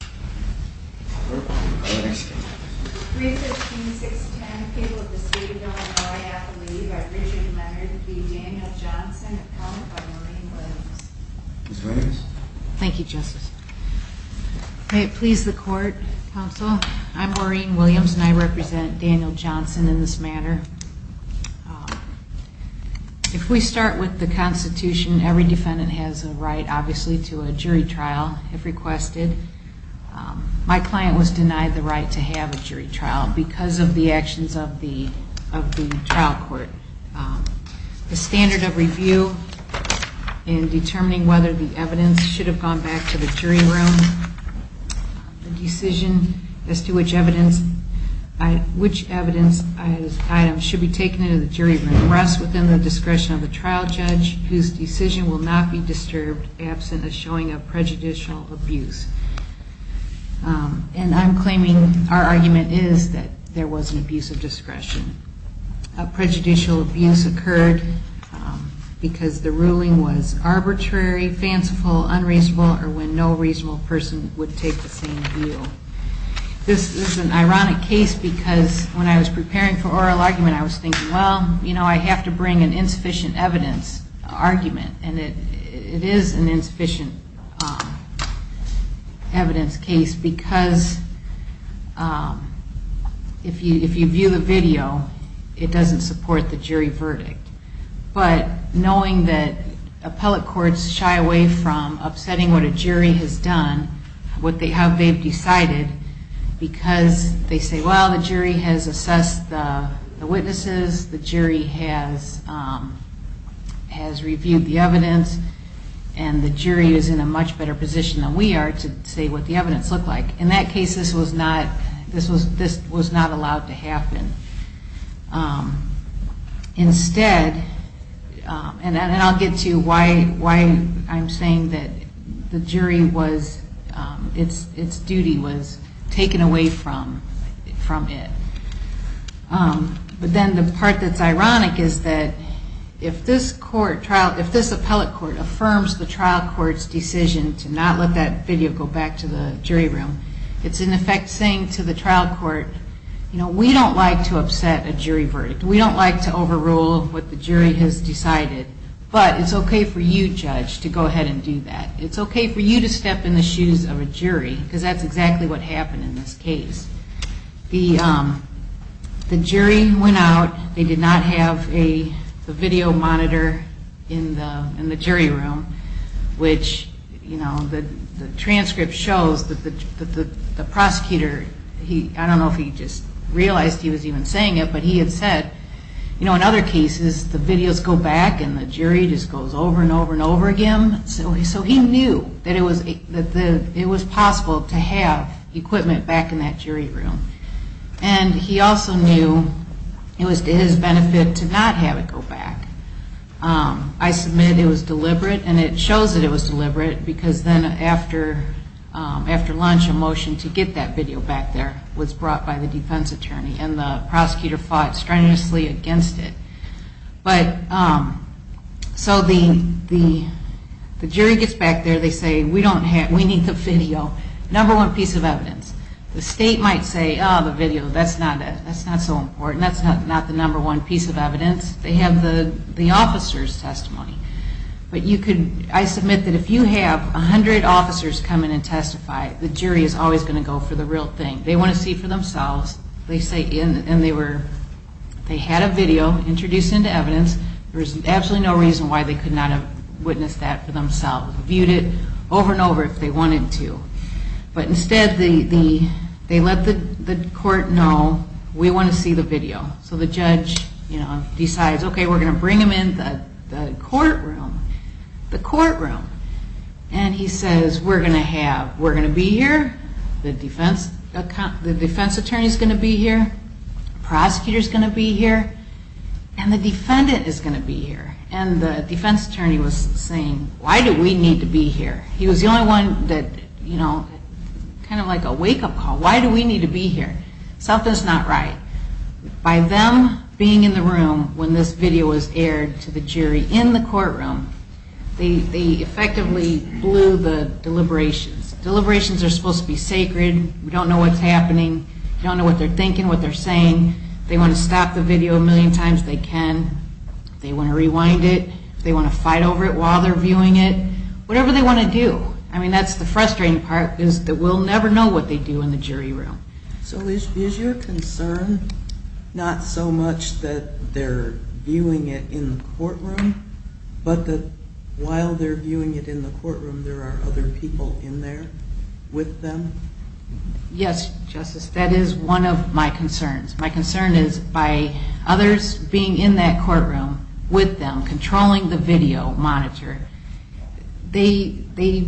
315-610, people of the State of Illinois-Appalooh, by Richard Leonard v. Daniel Johnson, appellant by Maureen Williams. Ms. Williams. Thank you, Justice. May it please the Court, Counsel, I'm Maureen Williams and I represent Daniel Johnson in this matter. If we start with the Constitution, every defendant has a right, obviously, to a jury trial, if my client was denied the right to have a jury trial because of the actions of the trial court. The standard of review in determining whether the evidence should have gone back to the jury room, the decision as to which evidence item should be taken into the jury room rests within the discretion of the trial judge, whose decision will not be disturbed absent the showing of prejudicial abuse. And I'm claiming our argument is that there was an abuse of discretion. A prejudicial abuse occurred because the ruling was arbitrary, fanciful, unreasonable, or when no reasonable person would take the same view. This is an ironic case because when I was preparing for oral argument, I was thinking, well, you know, I have to bring an insufficient evidence argument. And it is an insufficient evidence case because if you view the video, it doesn't support the jury verdict. But knowing that appellate courts shy away from upsetting what a jury has done, what has reviewed the evidence, and the jury is in a much better position than we are to say what the evidence looked like. In that case, this was not allowed to happen. Instead, and I'll get to why I'm saying that the jury was, its duty was taken away from it. But then the part that's ironic is that if this court, if this appellate court affirms the trial court's decision to not let that video go back to the jury room, it's in effect saying to the trial court, you know, we don't like to upset a jury verdict. We don't like to overrule what the jury has decided. But it's okay for you, judge, to go ahead and do that. It's okay for you to step in the shoes of a jury because that's exactly what happened in this case. The jury went out. They did not have a video monitor in the jury room, which, you know, the transcript shows that the prosecutor, I don't know if he just realized he was even saying it, but he had said, you know, in other cases, the videos go back and the jury just goes over and over and over again. So he knew that it was possible to have equipment back in that jury room. And he also knew it was to his benefit to not have it go back. I submit it was deliberate and it shows that it was deliberate because then after lunch a motion to get that video back there was brought by the defense attorney and the prosecutor fought strenuously against it. So the jury gets back there. They say, we need the video, number one piece of evidence. The state might say, oh, the video, that's not so important. That's not the number one piece of evidence. They have the officer's testimony. But I submit that if you have 100 officers come in and testify, the jury is always going to go for the real thing. They want to see it for themselves. And they had a video introduced into evidence. There was absolutely no reason why they could not have witnessed that for themselves. They viewed it over and over if they wanted to. But instead they let the court know, we want to see the video. So the judge decides, okay, we're going to bring them in the courtroom. The courtroom. And he says, we're going to have, we're going to be here. The defense attorney is going to be here. The prosecutor is going to be here. And the defendant is going to be here. And the defense attorney was saying, why do we need to be here? He was the only one that, you know, kind of like a wake-up call. Why do we need to be here? Something's not right. By them being in the room when this video was aired to the jury in the courtroom, they effectively blew the deliberations. Deliberations are supposed to be sacred. We don't know what's happening. We don't know what they're thinking, what they're saying. If they want to stop the video a million times, they can. If they want to rewind it, if they want to fight over it while they're viewing it. Whatever they want to do. I mean, that's the frustrating part is that we'll never know what they do in the jury room. But while they're viewing it in the courtroom, there are other people in there with them? Yes, Justice. That is one of my concerns. My concern is by others being in that courtroom with them, controlling the video monitor, they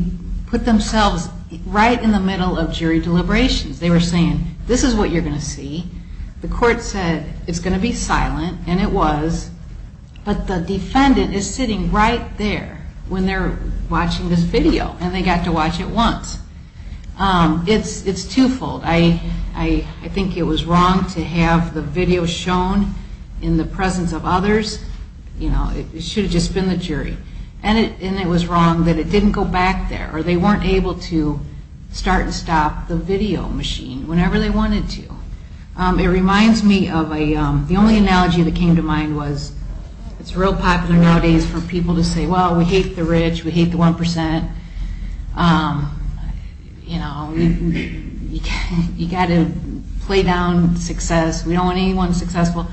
put themselves right in the middle of jury deliberations. They were saying, this is what you're going to see. The court said it's going to be silent, and it was. But the defendant is sitting right there when they're watching this video, and they got to watch it once. It's twofold. I think it was wrong to have the video shown in the presence of others. It should have just been the jury. And it was wrong that it didn't go back there, or they weren't able to start and stop the video machine whenever they wanted to. It reminds me of a, the only analogy that came to mind was, it's real popular nowadays for people to say, well, we hate the rich, we hate the 1%. You know, you got to play down success. We don't want anyone successful.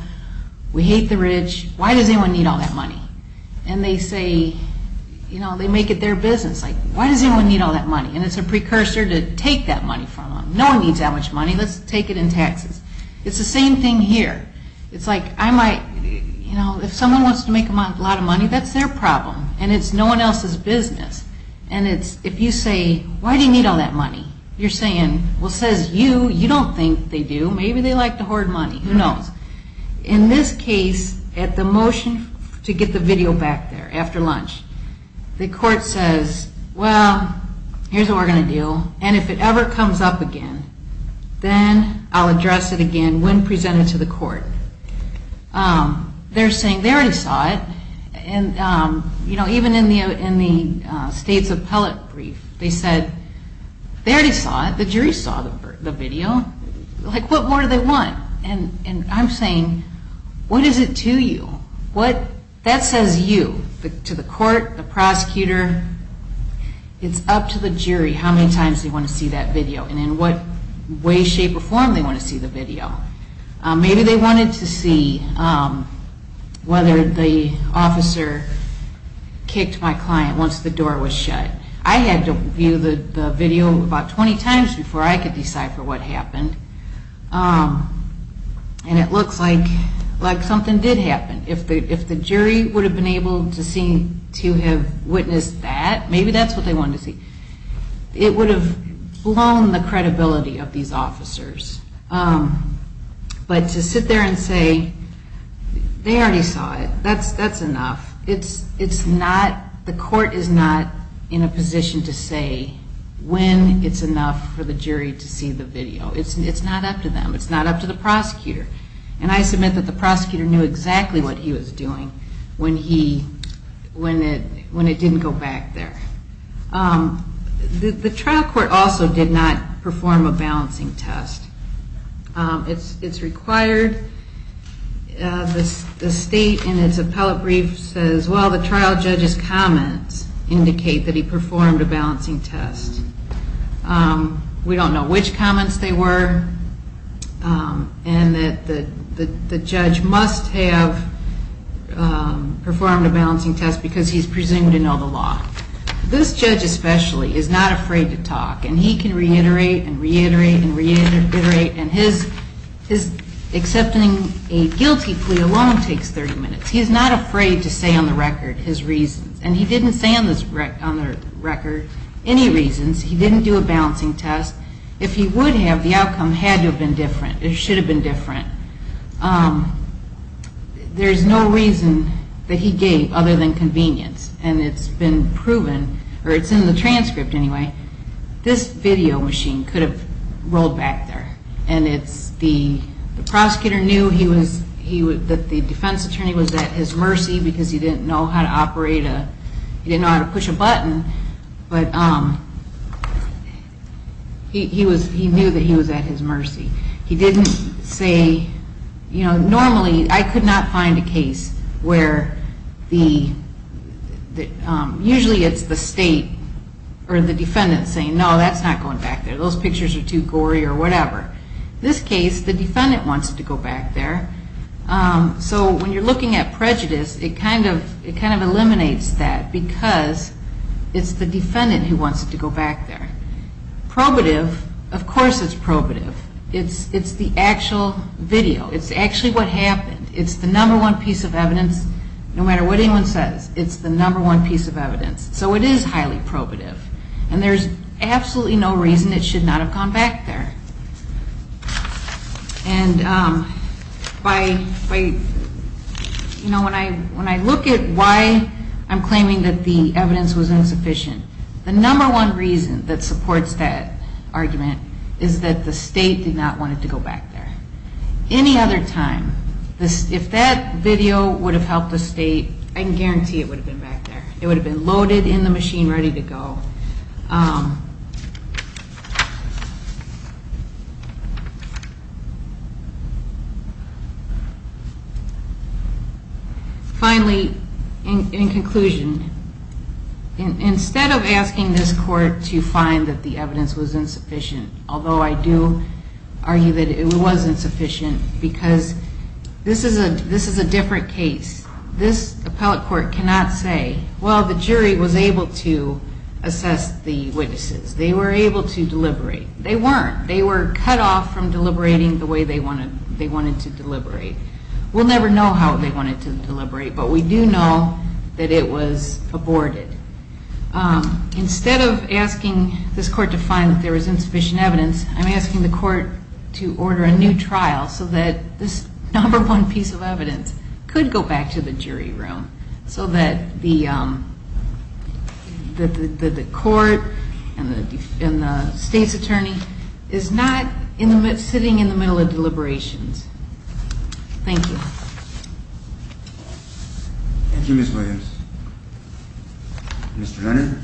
We hate the rich. Why does anyone need all that money? And they say, you know, they make it their business. Like, why does anyone need all that money? And it's a precursor to take that money from them. No one needs that much money. Let's take it in taxes. It's the same thing here. It's like, I might, you know, if someone wants to make a lot of money, that's their problem, and it's no one else's business. And it's, if you say, why do you need all that money? You're saying, well, says you, you don't think they do. Maybe they like to hoard money. Who knows? In this case, at the motion to get the video back there after lunch, the court says, well, here's what we're going to do. And if it ever comes up again, then I'll address it again when presented to the court. They're saying they already saw it. And, you know, even in the state's appellate brief, they said, they already saw it. The jury saw the video. Like, what more do they want? And I'm saying, what is it to you? What, that says you to the court, the prosecutor. It's up to the jury how many times they want to see that video and in what way, shape, or form they want to see the video. Maybe they wanted to see whether the officer kicked my client once the door was shut. I had to view the video about 20 times before I could decipher what happened. And it looks like something did happen. If the jury would have been able to see, to have witnessed that, maybe that's what they wanted to see. It would have blown the credibility of these officers. But to sit there and say, they already saw it, that's enough. It's not, the court is not in a position to say when it's enough for the jury to see the video. It's not up to them. It's not up to the prosecutor. And I submit that the prosecutor knew exactly what he was doing when it didn't go back there. The trial court also did not perform a balancing test. It's required. The state in its appellate brief says, well, the trial judge's comments indicate that he performed a balancing test. We don't know which comments they were. And that the judge must have performed a balancing test because he's presumed to know the law. This judge especially is not afraid to talk. And he can reiterate and reiterate and reiterate. And his accepting a guilty plea alone takes 30 minutes. He is not afraid to say on the record his reasons. And he didn't say on the record any reasons. He didn't do a balancing test. If he would have, the outcome had to have been different. It should have been different. There's no reason that he gave other than convenience. And it's been proven, or it's in the transcript anyway, this video machine could have rolled back there. And the prosecutor knew that the defense attorney was at his mercy because he didn't know how to operate a – he didn't know how to push a button. But he was – he knew that he was at his mercy. He didn't say – you know, normally I could not find a case where the – usually it's the state or the defendant saying, no, that's not going back there. Those pictures are too gory or whatever. This case, the defendant wants it to go back there. So when you're looking at prejudice, it kind of eliminates that because it's the defendant who wants it to go back there. Probative, of course it's probative. It's the actual video. It's actually what happened. It's the number one piece of evidence. No matter what anyone says, it's the number one piece of evidence. So it is highly probative. And there's absolutely no reason it should not have gone back there. And by – you know, when I look at why I'm claiming that the evidence was insufficient, the number one reason that supports that argument is that the state did not want it to go back there. Any other time, if that video would have helped the state, I can guarantee it would have been back there. It would have been loaded in the machine, ready to go. Finally, in conclusion, instead of asking this court to find that the evidence was insufficient, although I do argue that it was insufficient because this is a different case. This appellate court cannot say, well, the jury was able to assess the witnesses. They were able to deliberate. They weren't. They were cut off from deliberating the way they wanted to deliberate. We'll never know how they wanted to deliberate, but we do know that it was aborted. Instead of asking this court to find that there was insufficient evidence, I'm asking the court to order a new trial so that this number one piece of evidence could go back to the jury room so that the court and the state's attorney is not sitting in the middle of deliberations. Thank you. Thank you, Ms. Williams. Mr. Leonard?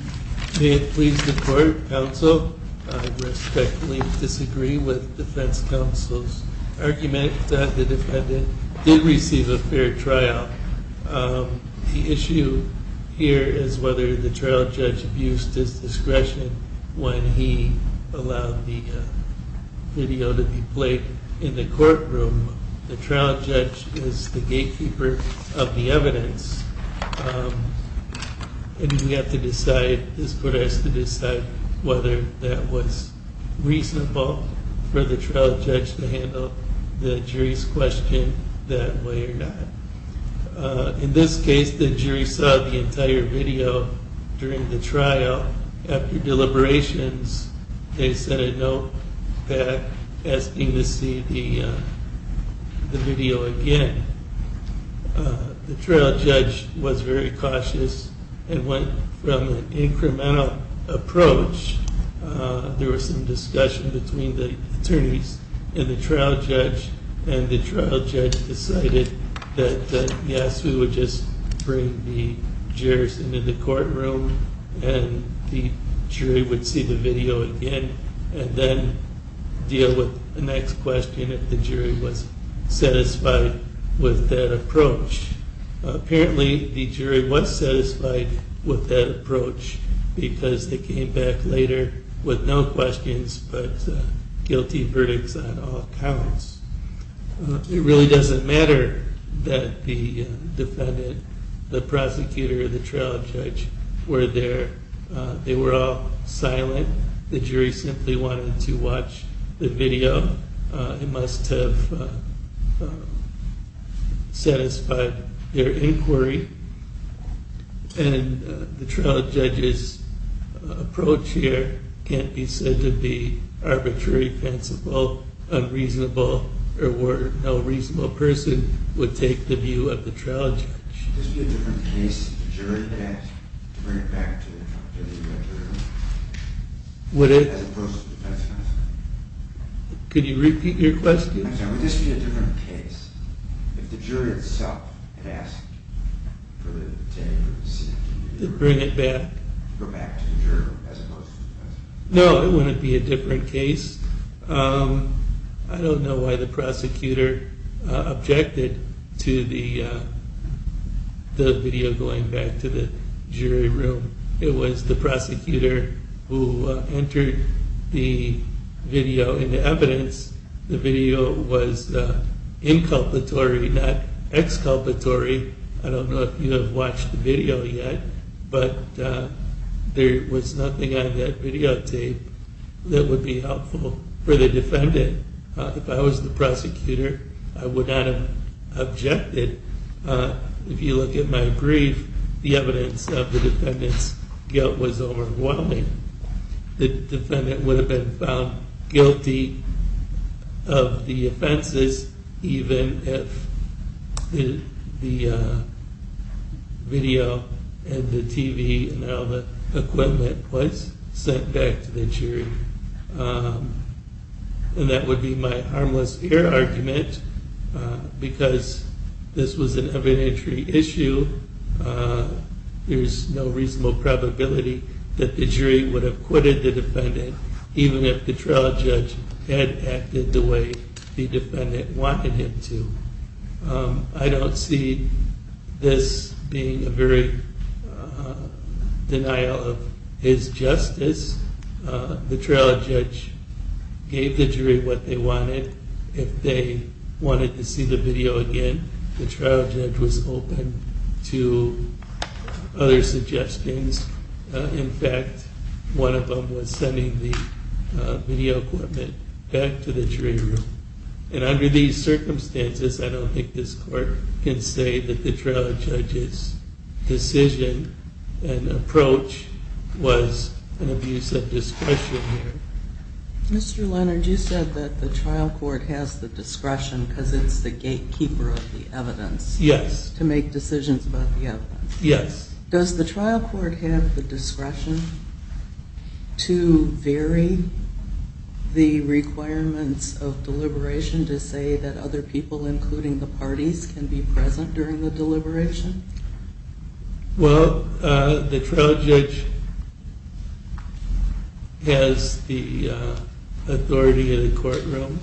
May it please the court, counsel, I respectfully disagree with defense counsel's argument that the defendant did receive a fair trial. The issue here is whether the trial judge abused his discretion when he allowed the video to be played in the courtroom. The trial judge is the gatekeeper of the evidence, and we have to decide, this court has to decide, whether that was reasonable for the trial judge to handle the jury's question that way or not. In this case, the jury saw the entire video during the trial. After deliberations, they sent a note back asking to see the video again. The trial judge was very cautious and went from an incremental approach. There was some discussion between the attorneys and the trial judge, and the trial judge decided that yes, we would just bring the jurors into the courtroom and the jury would see the video again and then deal with the next question if the jury was satisfied with that approach. Apparently, the jury was satisfied with that approach because they came back later with no questions but a guilty verdict on all counts. It really doesn't matter that the defendant, the prosecutor, or the trial judge were there. They were all silent. The jury simply wanted to watch the video. It must have satisfied their inquiry, and the trial judge's approach here can't be said to be arbitrary, fanciful, unreasonable, or where no reasonable person would take the view of the trial judge. Would this be a different case if the jury had asked to bring it back to the jury as opposed to the defense counsel? Could you repeat your question? I'm sorry, would this be a different case if the jury itself had asked for the detainee to be brought back to the jury as opposed to the defense counsel? No, it wouldn't be a different case. I don't know why the prosecutor objected to the video going back to the jury room. It was the prosecutor who entered the video into evidence. The video was inculpatory, not exculpatory. I don't know if you have watched the video yet, but there was nothing on that videotape that would be helpful for the defendant. If I was the prosecutor, I would not have objected. If you look at my brief, the evidence of the defendant's guilt was overwhelming. The defendant would have been found guilty of the offenses, even if the video and the TV and all the equipment was sent back to the jury. And that would be my harmless air argument, because this was an evidentiary issue. There's no reasonable probability that the jury would have quitted the defendant, even if the trial judge had acted the way the defendant wanted him to. I don't see this being a very denial of his justice. The trial judge gave the jury what they wanted. If they wanted to see the video again, the trial judge was open to other suggestions. In fact, one of them was sending the video equipment back to the jury room. And under these circumstances, I don't think this court can say that the trial judge's decision and approach was an abuse of discretion here. Mr. Leonard, you said that the trial court has the discretion, because it's the gatekeeper of the evidence, to make decisions about the evidence. Yes. Does the trial court have the discretion to vary the requirements of deliberation, to say that other people, including the parties, can be present during the deliberation? Well, the trial judge has the authority in the courtroom,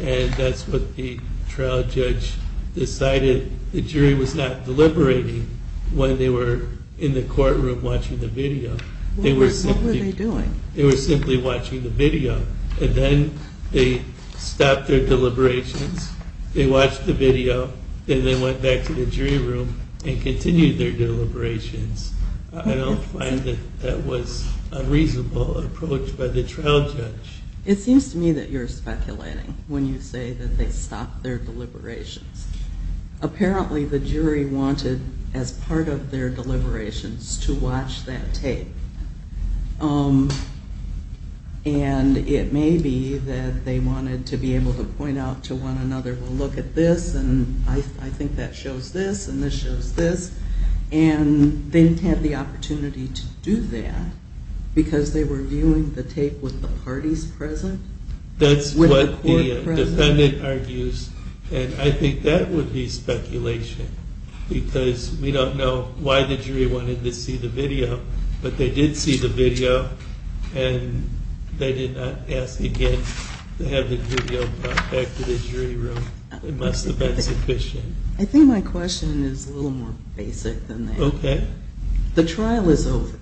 and that's what the trial judge decided the jury was not deliberating when they were in the courtroom watching the video. What were they doing? They were simply watching the video. And then they stopped their deliberations, they watched the video, then they went back to the jury room and continued their deliberations. I don't find that that was a reasonable approach by the trial judge. It seems to me that you're speculating when you say that they stopped their deliberations. Apparently, the jury wanted, as part of their deliberations, to watch that tape. And it may be that they wanted to be able to point out to one another, well, look at this, and I think that shows this, and this shows this. And they didn't have the opportunity to do that, because they were viewing the tape with the parties present. That's what the defendant argues, and I think that would be speculation, because we don't know why the jury wanted to see the video, but they did see the video, and they did not ask again to have the video brought back to the jury room. It must have been sufficient. I think my question is a little more basic than that. Okay. The trial is over,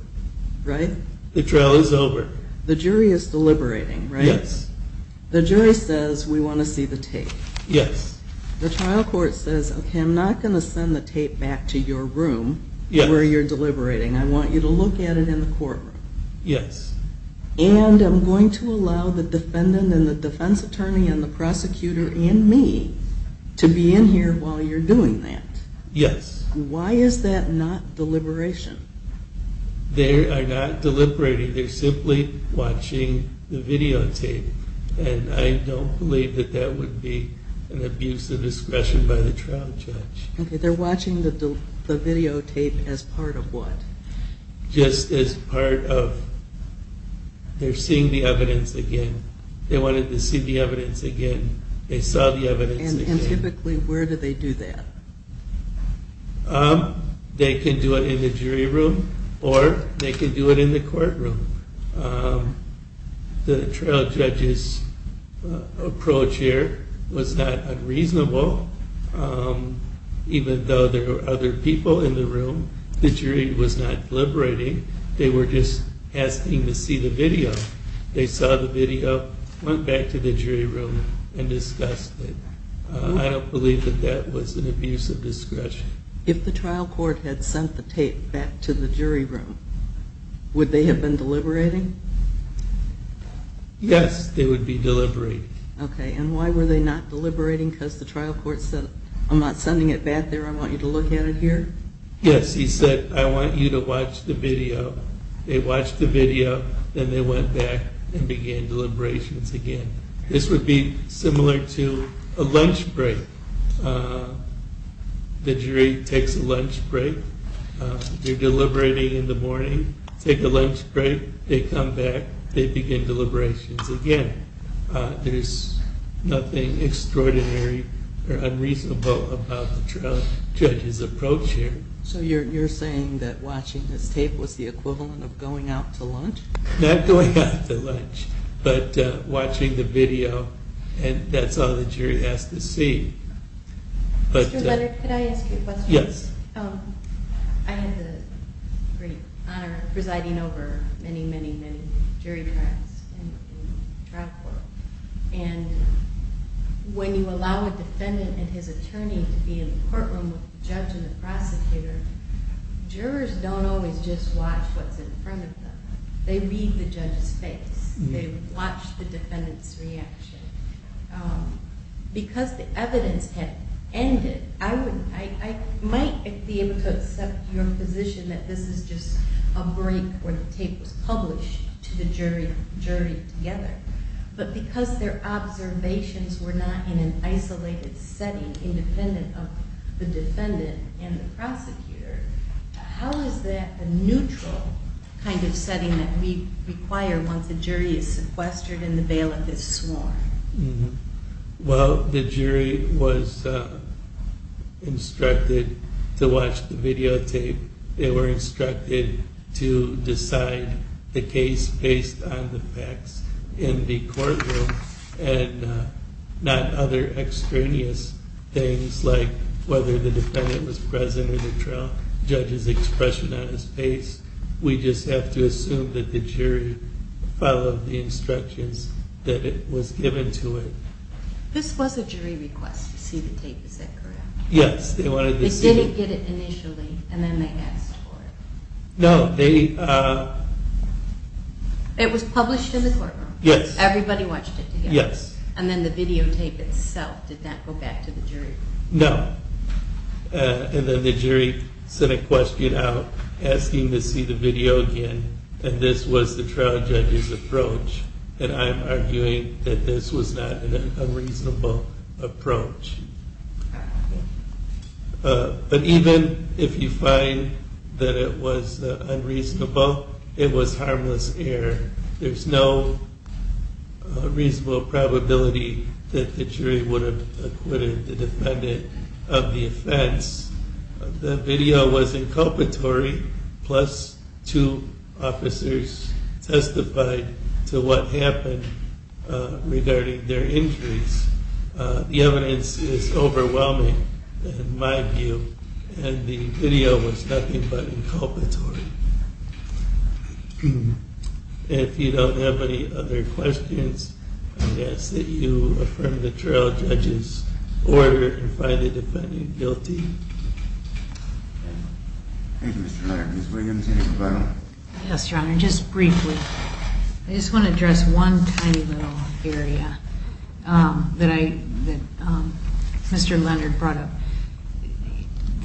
right? The trial is over. The jury is deliberating, right? Yes. The jury says, we want to see the tape. Yes. The trial court says, okay, I'm not going to send the tape back to your room where you're deliberating. I want you to look at it in the courtroom. Yes. And I'm going to allow the defendant and the defense attorney and the prosecutor and me to be in here while you're doing that. Yes. Why is that not deliberation? They are not deliberating. They're simply watching the videotape, and I don't believe that that would be an abuse of discretion by the trial judge. Okay. They're watching the videotape as part of what? Just as part of they're seeing the evidence again. They wanted to see the evidence again. They saw the evidence again. And typically, where do they do that? They can do it in the jury room, or they can do it in the courtroom. The trial judge's approach here was not unreasonable. Even though there were other people in the room, the jury was not deliberating. They were just asking to see the video. They saw the video, went back to the jury room, and discussed it. I don't believe that that was an abuse of discretion. If the trial court had sent the tape back to the jury room, would they have been deliberating? Yes, they would be deliberating. Okay. And why were they not deliberating? Because the trial court said, I'm not sending it back there. I want you to look at it here? Yes. He said, I want you to watch the video. They watched the video, then they went back and began deliberations again. This would be similar to a lunch break. The jury takes a lunch break. They're deliberating in the morning, take a lunch break, they come back, they begin deliberations again. There's nothing extraordinary or unreasonable about the trial judge's approach here. So you're saying that watching this tape was the equivalent of going out to lunch? Not going out to lunch, but watching the video. And that's all the jury has to see. Mr. Leonard, could I ask you a question? Yes. I had the great honor of presiding over many, many, many jury trials in the trial court. And when you allow a defendant and his attorney to be in the courtroom with the judge and the prosecutor, jurors don't always just watch what's in front of them. They read the judge's face. They watch the defendant's reaction. Because the evidence had ended, I might be able to accept your position that this is just a break where the tape was published to the jury together. But because their observations were not in an isolated setting independent of the defendant and the prosecutor, how is that a neutral kind of setting that we require once a jury is sequestered and the bailiff is sworn? Well, the jury was instructed to watch the videotape. They were instructed to decide the case based on the facts in the courtroom and not other extraneous things like whether the defendant was present or the judge's expression on his face. We just have to assume that the jury followed the instructions that was given to it. This was a jury request to see the tape, is that correct? Yes. They didn't get it initially and then they asked for it? No. It was published in the courtroom? Yes. Everybody watched it together? Yes. And then the videotape itself did not go back to the jury? No. And then the jury sent a question out asking to see the video again, and this was the trial judge's approach. And I'm arguing that this was not an unreasonable approach. But even if you find that it was unreasonable, it was harmless error. There's no reasonable probability that the jury would have acquitted the defendant of the offense. The video was inculpatory, plus two officers testified to what happened regarding their injuries. The evidence is overwhelming in my view, and the video was nothing but inculpatory. If you don't have any other questions, I ask that you affirm the trial judge's order and find the defendant guilty. Thank you, Mr. Larkin. Ms. Williams, any further? Yes, Your Honor, just briefly. I just want to address one tiny little area that Mr. Leonard brought up.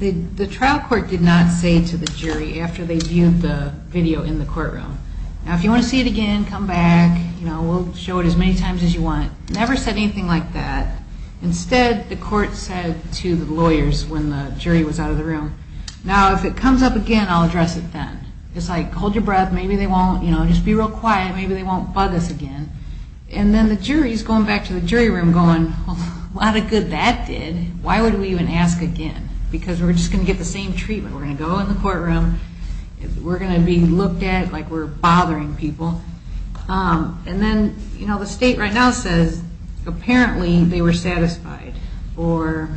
The trial court did not say to the jury after they viewed the video in the courtroom, now if you want to see it again, come back, we'll show it as many times as you want. It never said anything like that. Instead, the court said to the lawyers when the jury was out of the room, now if it comes up again, I'll address it then. It's like, hold your breath, maybe they won't, you know, just be real quiet, maybe they won't bug us again. And then the jury's going back to the jury room going, a lot of good that did. Why would we even ask again? Because we're just going to get the same treatment. We're going to go in the courtroom. We're going to be looked at like we're bothering people. And then, you know, the state right now says apparently they were satisfied, or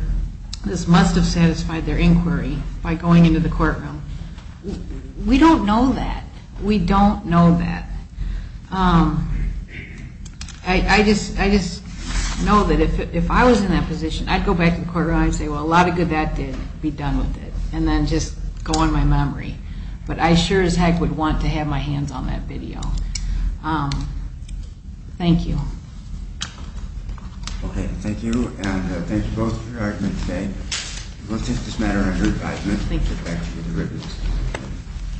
this must have satisfied their inquiry by going into the courtroom. We don't know that. We don't know that. I just know that if I was in that position, I'd go back to the courtroom and say, well, a lot of good that did, be done with it, and then just go on my memory. But I sure as heck would want to have my hands on that video. Thank you. Okay, thank you, and thank you both for your argument today. We'll take this matter under advisement. Thank you.